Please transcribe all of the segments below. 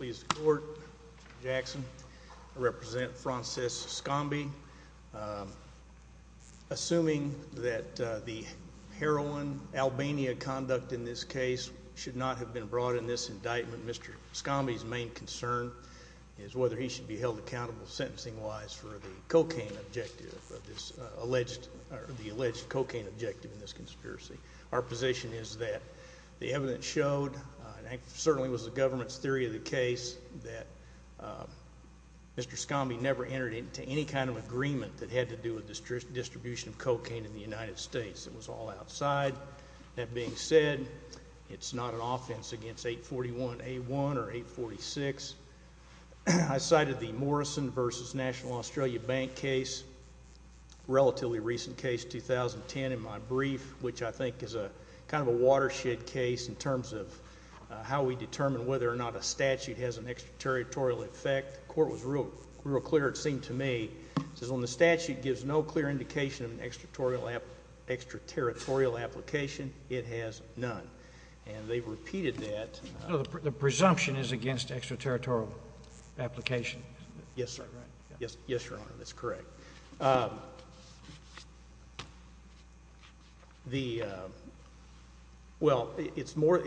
Mr. Jackson, I represent Francesk Shkambi. Assuming that the heroin Albania conduct in this case should not have been brought in this indictment, Mr. Shkambi's main concern is whether he should be held accountable sentencing-wise for the cocaine objective, our position is that the evidence showed, and it certainly was the government's theory of the case, that Mr. Shkambi never entered into any kind of agreement that had to do with the distribution of cocaine in the United States. It was all outside. That being said, it's not an offense against 841A1 or 846. I cited the Morrison v. National Australia Bank case, relatively recent case, 2010 in my brief, which I think is kind of a watershed case in terms of how we determine whether or not a statute has an extraterritorial effect. The court was real clear, it seemed to me, it says, when the statute gives no clear indication of an extraterritorial application, it has none. And they've repeated that. The presumption is against extraterritorial application. Yes, Your Honor, that's correct. The – well, it's more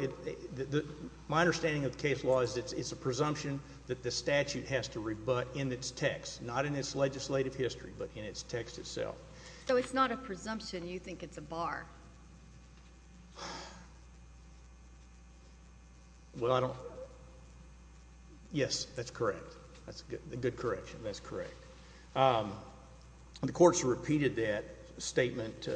– my understanding of the case law is it's a presumption that the statute has to rebut in its text, not in its legislative history, but in its text itself. So it's not a presumption. You think it's a bar. Well, I don't – yes, that's correct. That's a good correction. That's correct. The courts repeated that statement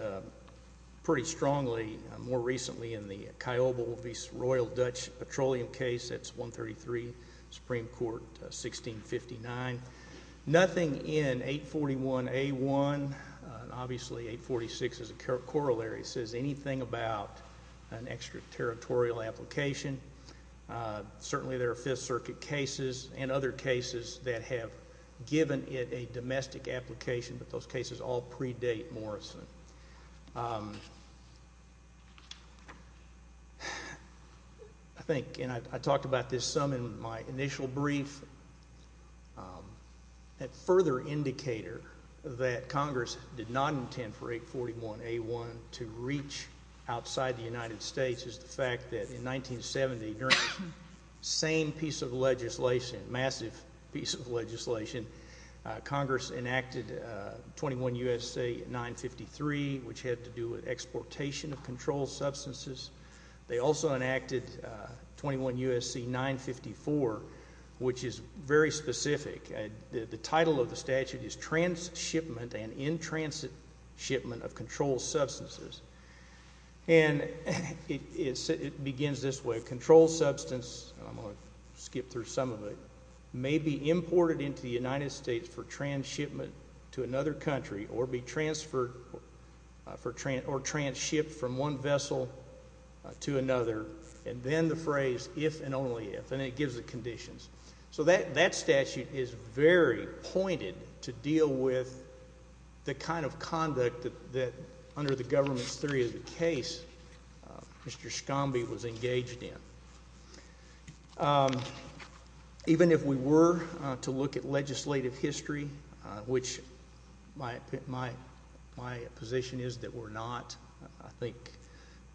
pretty strongly more recently in the Kyobel v. Royal Dutch Petroleum case. That's 133 Supreme Court, 1659. Nothing in 841A1, obviously 846 is a corollary, says anything about an extraterritorial application. Certainly there are Fifth Circuit cases and other cases that have given it a domestic application, but those cases all predate Morrison. I think – and I talked about this some in my initial brief. That further indicator that Congress did not intend for 841A1 to reach outside the United States is the fact that in 1970, during the same piece of legislation, massive piece of legislation, Congress enacted 21 U.S.C. 953, which had to do with exportation of controlled substances. They also enacted 21 U.S.C. 954, which is very specific. The title of the statute is Transshipment and In-Transit Shipment of Controlled Substances. It begins this way. Controlled substance – I'm going to skip through some of it – may be imported into the United States for transshipment to another country or be transferred or transshipped from one vessel to another. And then the phrase, if and only if, and it gives the conditions. So that statute is very pointed to deal with the kind of conduct that, under the government's theory of the case, Mr. Schombe was engaged in. Even if we were to look at legislative history, which my position is that we're not. I think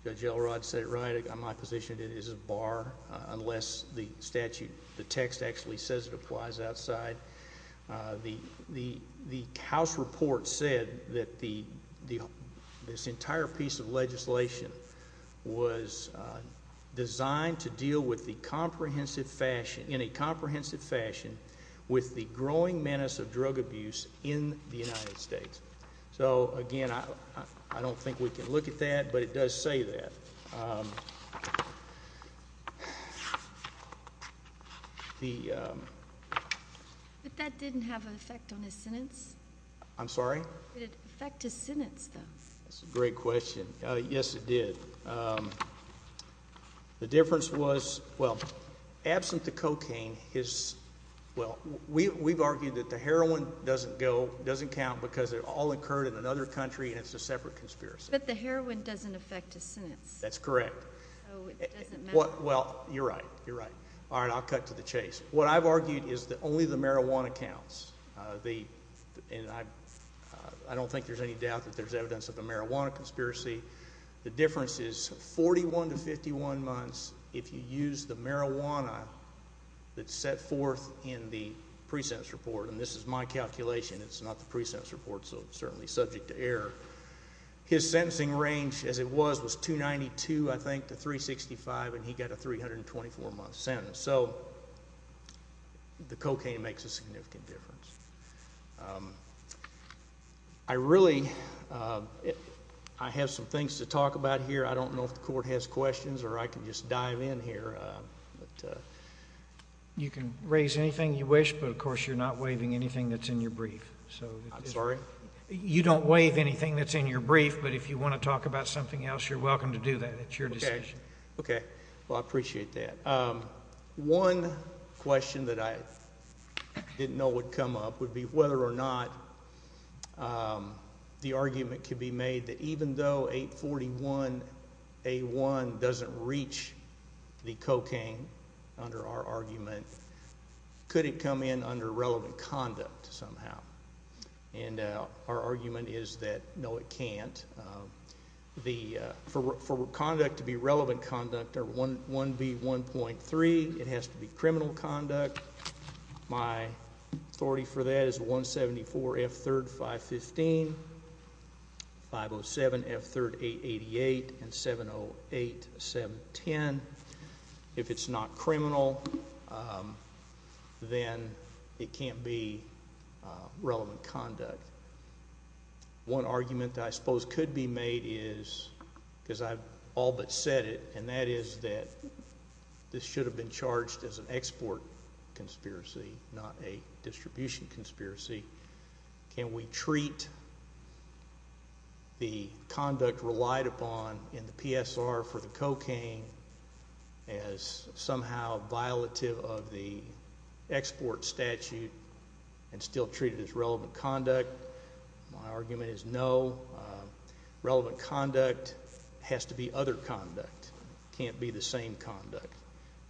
Judge Elrod said it right. My position is it is a bar unless the statute, the text actually says it applies outside. The House report said that this entire piece of legislation was designed to deal with the comprehensive fashion – in a comprehensive fashion – with the growing menace of drug abuse in the United States. So, again, I don't think we can look at that, but it does say that. But that didn't have an effect on his sentence. I'm sorry? Did it affect his sentence, though? That's a great question. Yes, it did. The difference was – well, absent the cocaine, his – well, we've argued that the heroin doesn't go, doesn't count, because it all occurred in another country and it's a separate conspiracy. But the heroin doesn't affect his sentence. That's correct. Oh, it doesn't matter? Well, you're right. You're right. All right, I'll cut to the chase. What I've argued is that only the marijuana counts. And I don't think there's any doubt that there's evidence of the marijuana conspiracy. The difference is 41 to 51 months if you use the marijuana that's set forth in the pre-sentence report. And this is my calculation. It's not the pre-sentence report, so it's certainly subject to error. His sentencing range, as it was, was 292, I think, to 365, and he got a 324-month sentence. So the cocaine makes a significant difference. I really – I have some things to talk about here. I don't know if the court has questions or I can just dive in here. You can raise anything you wish, but, of course, you're not waiving anything that's in your brief. I'm sorry? You don't waive anything that's in your brief, but if you want to talk about something else, you're welcome to do that. It's your decision. Okay. Well, I appreciate that. One question that I didn't know would come up would be whether or not the argument could be made that, even though 841A1 doesn't reach the cocaine under our argument, could it come in under relevant conduct somehow? And our argument is that, no, it can't. For conduct to be relevant conduct, 1B1.3, it has to be criminal conduct. My authority for that is 174F3-515, 507F3-888, and 708F7-10. If it's not criminal, then it can't be relevant conduct. One argument that I suppose could be made is, because I've all but said it, and that is that this should have been charged as an export conspiracy, not a distribution conspiracy. Can we treat the conduct relied upon in the PSR for the cocaine as somehow violative of the export statute and still treat it as relevant conduct? My argument is no. Relevant conduct has to be other conduct. It can't be the same conduct.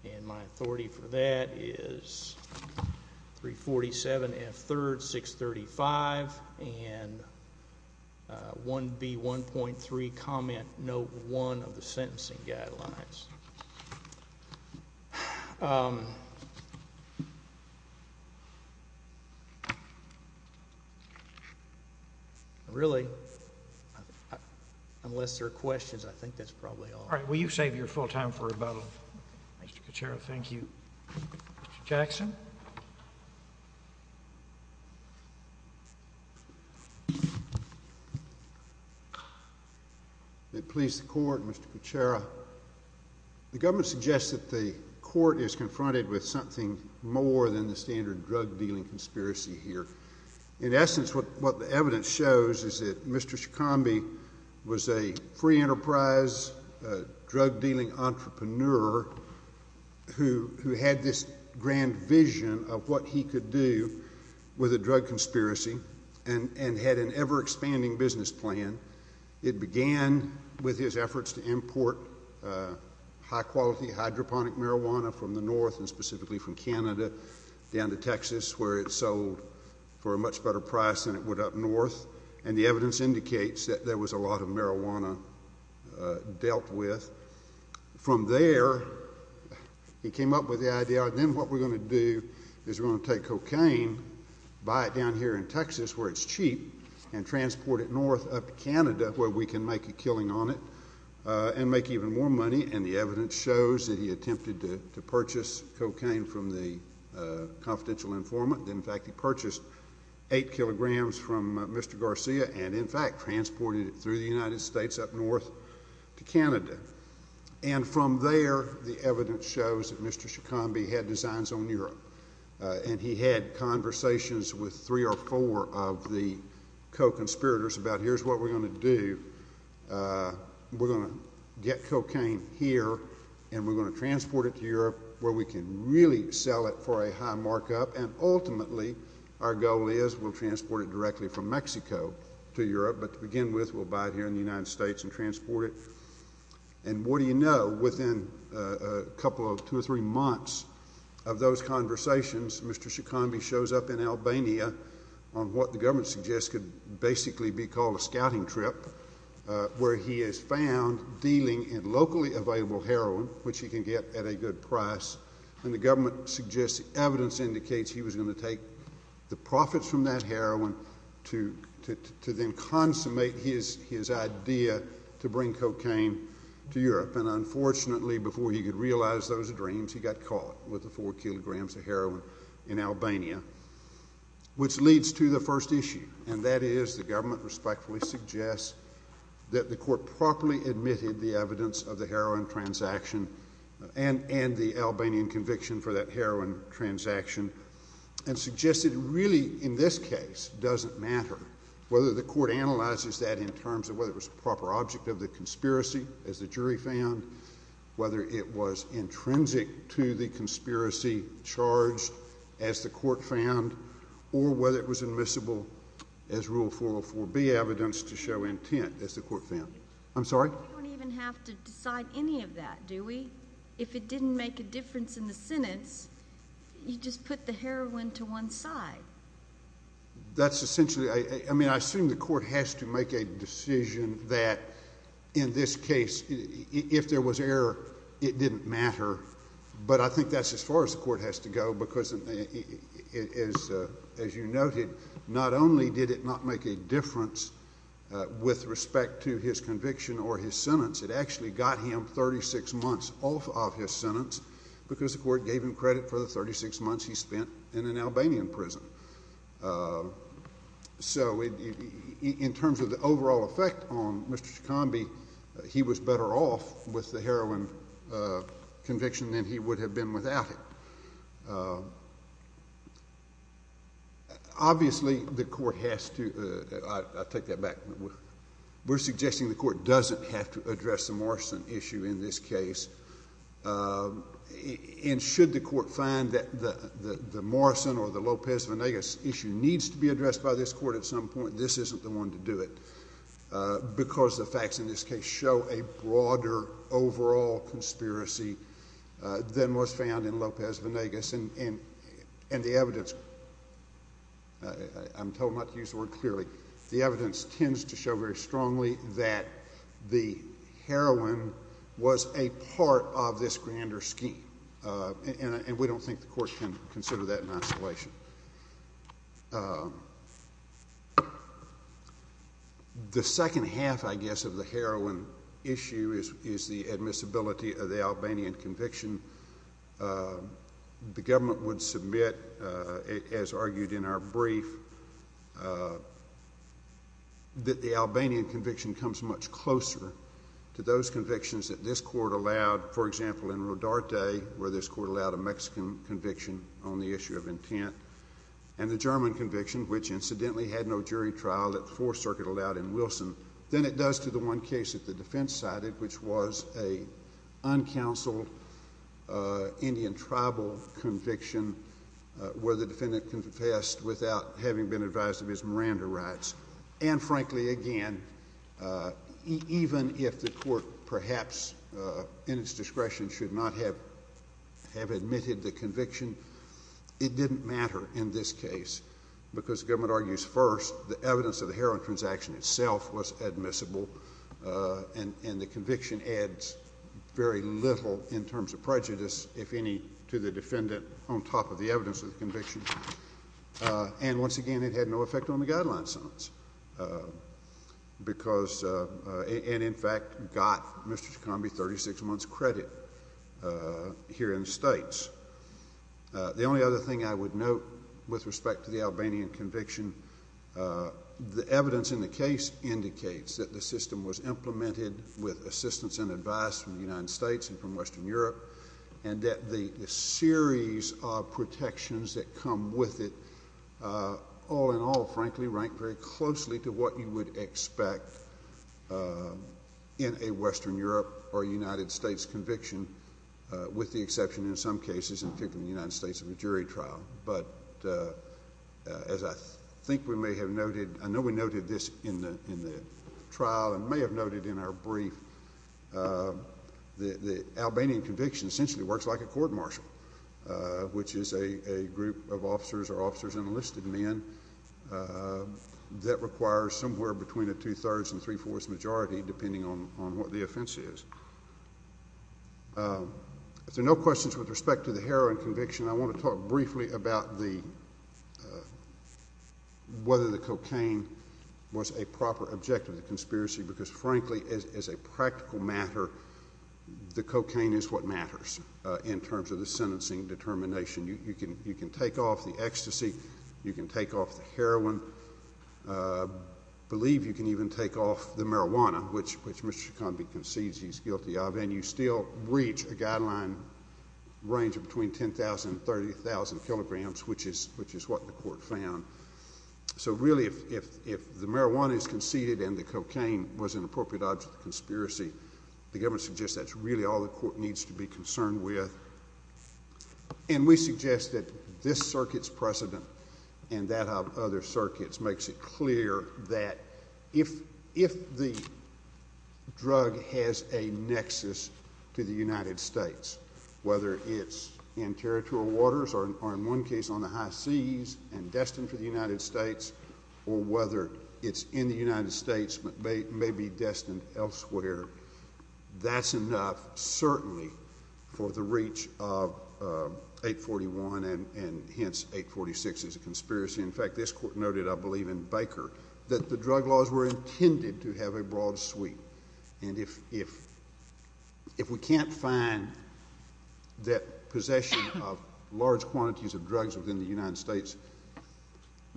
And my authority for that is 347F3-635 and 1B1.3, comment note one of the sentencing guidelines. Really, unless there are questions, I think that's probably all. All right. Will you save your full time for rebuttal, Mr. Kucera? Thank you. Mr. Jackson? May it please the Court, Mr. Kucera. The government suggests that the court is confronted with something more than the standard drug-dealing conspiracy here. In essence, what the evidence shows is that Mr. Shikambi was a free enterprise drug-dealing entrepreneur who had this grand vision of what he could do with a drug conspiracy and had an ever-expanding business plan. It began with his efforts to import high-quality hydroponic marijuana from the north, and specifically from Canada down to Texas, where it sold for a much better price than it would up north. And the evidence indicates that there was a lot of marijuana dealt with. From there, he came up with the idea, then what we're going to do is we're going to take cocaine, buy it down here in Texas where it's cheap, and transport it north up to Canada where we can make a killing on it and make even more money. And the evidence shows that he attempted to purchase cocaine from the confidential informant. In fact, he purchased eight kilograms from Mr. Garcia and, in fact, transported it through the United States up north to Canada. And from there, the evidence shows that Mr. Shikambi had designs on Europe, and he had conversations with three or four of the co-conspirators about here's what we're going to do. We're going to get cocaine here, and we're going to transport it to Europe where we can really sell it for a high markup, and ultimately our goal is we'll transport it directly from Mexico to Europe. But to begin with, we'll buy it here in the United States and transport it. And what do you know, within a couple of two or three months of those conversations, Mr. Shikambi shows up in Albania on what the government suggests could basically be called a scouting trip, where he is found dealing in locally available heroin, which he can get at a good price, and the government suggests evidence indicates he was going to take the profits from that heroin to then consummate his idea to bring cocaine to Europe. And unfortunately, before he could realize those dreams, he got caught with the four kilograms of heroin in Albania, which leads to the first issue, and that is the government respectfully suggests that the court properly admitted the evidence of the heroin transaction and the Albanian conviction for that heroin transaction and suggested really in this case doesn't matter whether the court analyzes that in terms of whether it was a proper object of the conspiracy, as the jury found, whether it was intrinsic to the conspiracy charged, as the court found, or whether it was admissible as Rule 404B evidence to show intent, as the court found. I'm sorry? We don't even have to decide any of that, do we? If it didn't make a difference in the sentence, you just put the heroin to one side. That's essentially—I mean, I assume the court has to make a decision that in this case, if there was error, it didn't matter, but I think that's as far as the court has to go because, as you noted, not only did it not make a difference with respect to his conviction or his sentence, it actually got him 36 months off of his sentence because the court gave him credit for the 36 months he spent in an Albanian prison. So in terms of the overall effect on Mr. Shikambi, he was better off with the heroin conviction than he would have been without it. Obviously, the court has to—I'll take that back. We're suggesting the court doesn't have to address the Morrison issue in this case, and should the court find that the Morrison or the Lopez-Vanegas issue needs to be addressed by this court at some point, this isn't the one to do it because the facts in this case show a broader overall conspiracy than was found in Lopez-Vanegas. And the evidence—I'm told not to use the word clearly. The evidence tends to show very strongly that the heroin was a part of this grander scheme, and we don't think the court can consider that in isolation. The second half, I guess, of the heroin issue is the admissibility of the Albanian conviction. The government would submit, as argued in our brief, that the Albanian conviction comes much closer to those convictions that this court allowed, for example, in Rodarte, where this court allowed a Mexican conviction on the issue of intent, and the German conviction, which incidentally had no jury trial that the Fourth Circuit allowed in Wilson, than it does to the one case that the defense cited, which was an uncounseled Indian tribal conviction, where the defendant confessed without having been advised of his Miranda rights. And frankly, again, even if the court perhaps in its discretion should not have admitted the conviction, it didn't matter in this case because the government argues first the evidence of the heroin transaction itself was admissible, and the conviction adds very little in terms of prejudice, if any, to the defendant on top of the evidence of the conviction. And once again, it had no effect on the guideline sentence and, in fact, got Mr. Chikambi 36 months credit here in the States. The only other thing I would note with respect to the Albanian conviction, the evidence in the case indicates that the system was implemented with assistance and advice from the United States and from Western Europe and that the series of protections that come with it all in all, frankly, rank very closely to what you would expect in a Western Europe or a United States conviction, with the exception in some cases, in particular the United States, of a jury trial. But as I think we may have noted, I know we noted this in the trial and may have noted in our brief, the Albanian conviction essentially works like a court-martial, which is a group of officers or officers and enlisted men that requires somewhere between a two-thirds and three-fourths majority, depending on what the offense is. If there are no questions with respect to the heroin conviction, I want to talk briefly about whether the cocaine was a proper objective of the conspiracy because, frankly, as a practical matter, the cocaine is what matters in terms of the sentencing determination. You can take off the ecstasy. You can take off the heroin. I believe you can even take off the marijuana, which Mr. Chikambi concedes he's guilty of, and you still reach a guideline range of between 10,000 and 30,000 kilograms, which is what the court found. So really, if the marijuana is conceded and the cocaine was an appropriate object of the conspiracy, the government suggests that's really all the court needs to be concerned with. And we suggest that this circuit's precedent and that of other circuits makes it clear that if the drug has a nexus to the United States, whether it's in territorial waters or, in one case, on the high seas and destined for the United States, or whether it's in the United States but may be destined elsewhere, that's enough, certainly, for the reach of 841 and hence 846 is a conspiracy. In fact, this court noted, I believe, in Baker that the drug laws were intended to have a broad sweep. And if we can't find that possession of large quantities of drugs within the United States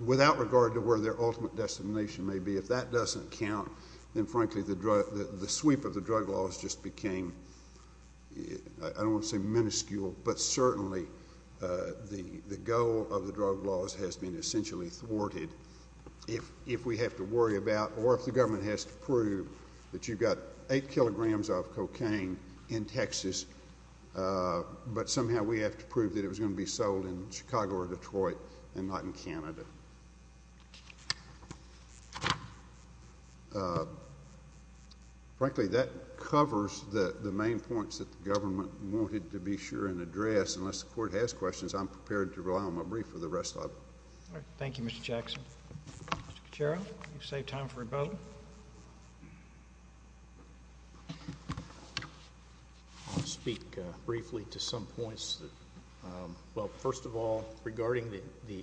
without regard to where their ultimate destination may be, if that doesn't count, then, frankly, the sweep of the drug laws just became, I don't want to say minuscule, but certainly the goal of the drug laws has been essentially thwarted. If we have to worry about, or if the government has to prove that you've got 8 kilograms of cocaine in Texas, but somehow we have to prove that it was going to be sold in Chicago or Detroit and not in Canada. Frankly, that covers the main points that the government wanted to be sure and address. Unless the court has questions, I'm prepared to rely on my brief for the rest of it. All right. Thank you, Mr. Jackson. Mr. Caccero, you've saved time for a vote. I'll speak briefly to some points. Well, first of all, regarding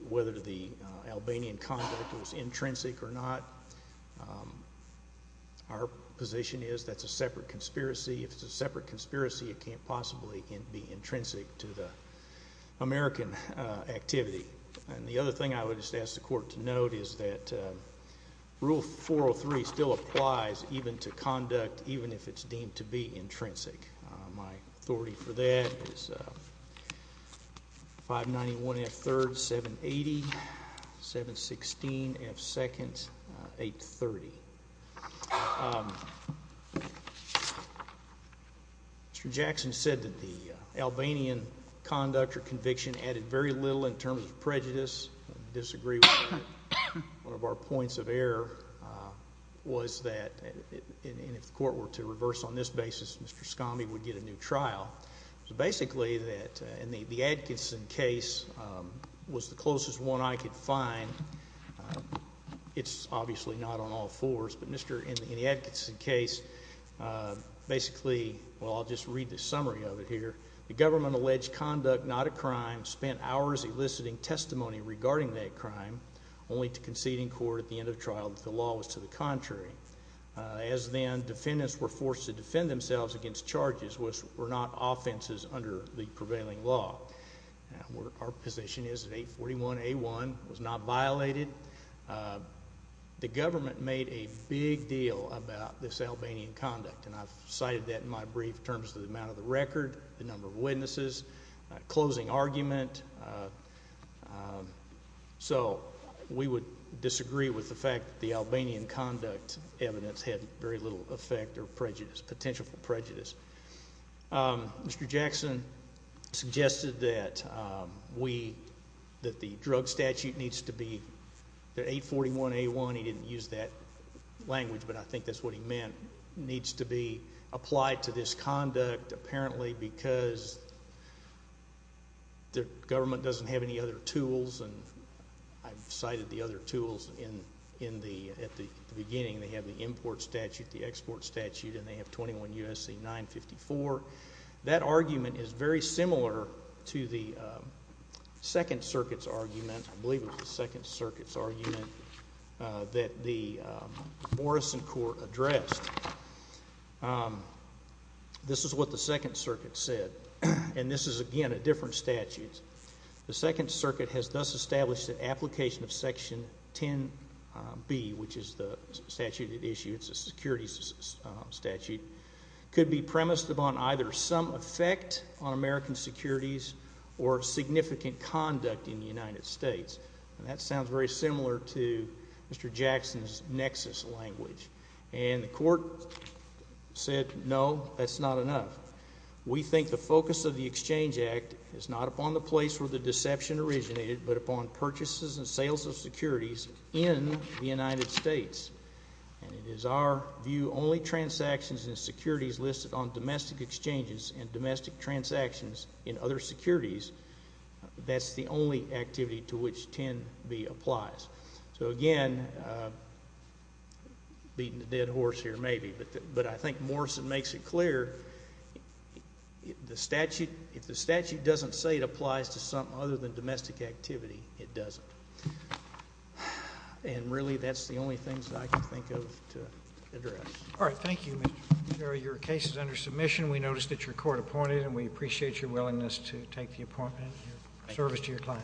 whether the Albanian conduct was intrinsic or not, our position is that's a separate conspiracy. If it's a separate conspiracy, it can't possibly be intrinsic to the American activity. And the other thing I would just ask the court to note is that Rule 403 still applies even to conduct, even if it's deemed to be intrinsic. My authority for that is 591 F. 3rd, 780, 716 F. 2nd, 830. Mr. Jackson said that the Albanian conduct or conviction added very little in terms of prejudice. I disagree with that. One of our points of error was that if the court were to reverse on this basis, Mr. Scammi would get a new trial. Basically, in the Atkinson case was the closest one I could find. It's obviously not on all fours, but in the Atkinson case, basically, well, I'll just read the summary of it here. The government alleged conduct not a crime, spent hours eliciting testimony regarding that crime, only to concede in court at the end of trial that the law was to the contrary. As then, defendants were forced to defend themselves against charges which were not offenses under the prevailing law. Our position is that 841A1 was not violated. The government made a big deal about this Albanian conduct, and I've cited that in my brief in terms of the amount of the record, the number of witnesses, closing argument. So, we would disagree with the fact that the Albanian conduct evidence had very little effect or prejudice, potential for prejudice. Mr. Jackson suggested that we, that the drug statute needs to be, that 841A1, he didn't use that language, but I think that's what he meant, needs to be applied to this conduct apparently because the government doesn't have any other tools, and I've cited the other tools in the, at the beginning. They have the import statute, the export statute, and they have 21 U.S.C. 954. That argument is very similar to the Second Circuit's argument, I believe it was the Second Circuit's argument that the Morrison Court addressed. This is what the Second Circuit said, and this is, again, a different statute. The Second Circuit has thus established that application of Section 10B, which is the statute at issue, it's a securities statute, could be premised upon either some effect on American securities or significant conduct in the United States. And that sounds very similar to Mr. Jackson's nexus language. And the court said, no, that's not enough. We think the focus of the Exchange Act is not upon the place where the deception originated, but upon purchases and sales of securities in the United States. And it is our view only transactions and securities listed on domestic exchanges and domestic transactions in other securities, that's the only activity to which 10B applies. So, again, beating a dead horse here, maybe, but I think Morrison makes it clear, if the statute doesn't say it applies to something other than domestic activity, it doesn't. And, really, that's the only things I can think of to address. All right. Thank you, Mr. Fitzgerald. Your case is under submission. We noticed that your court appointed it, and we appreciate your willingness to take the appointment and your service to your client.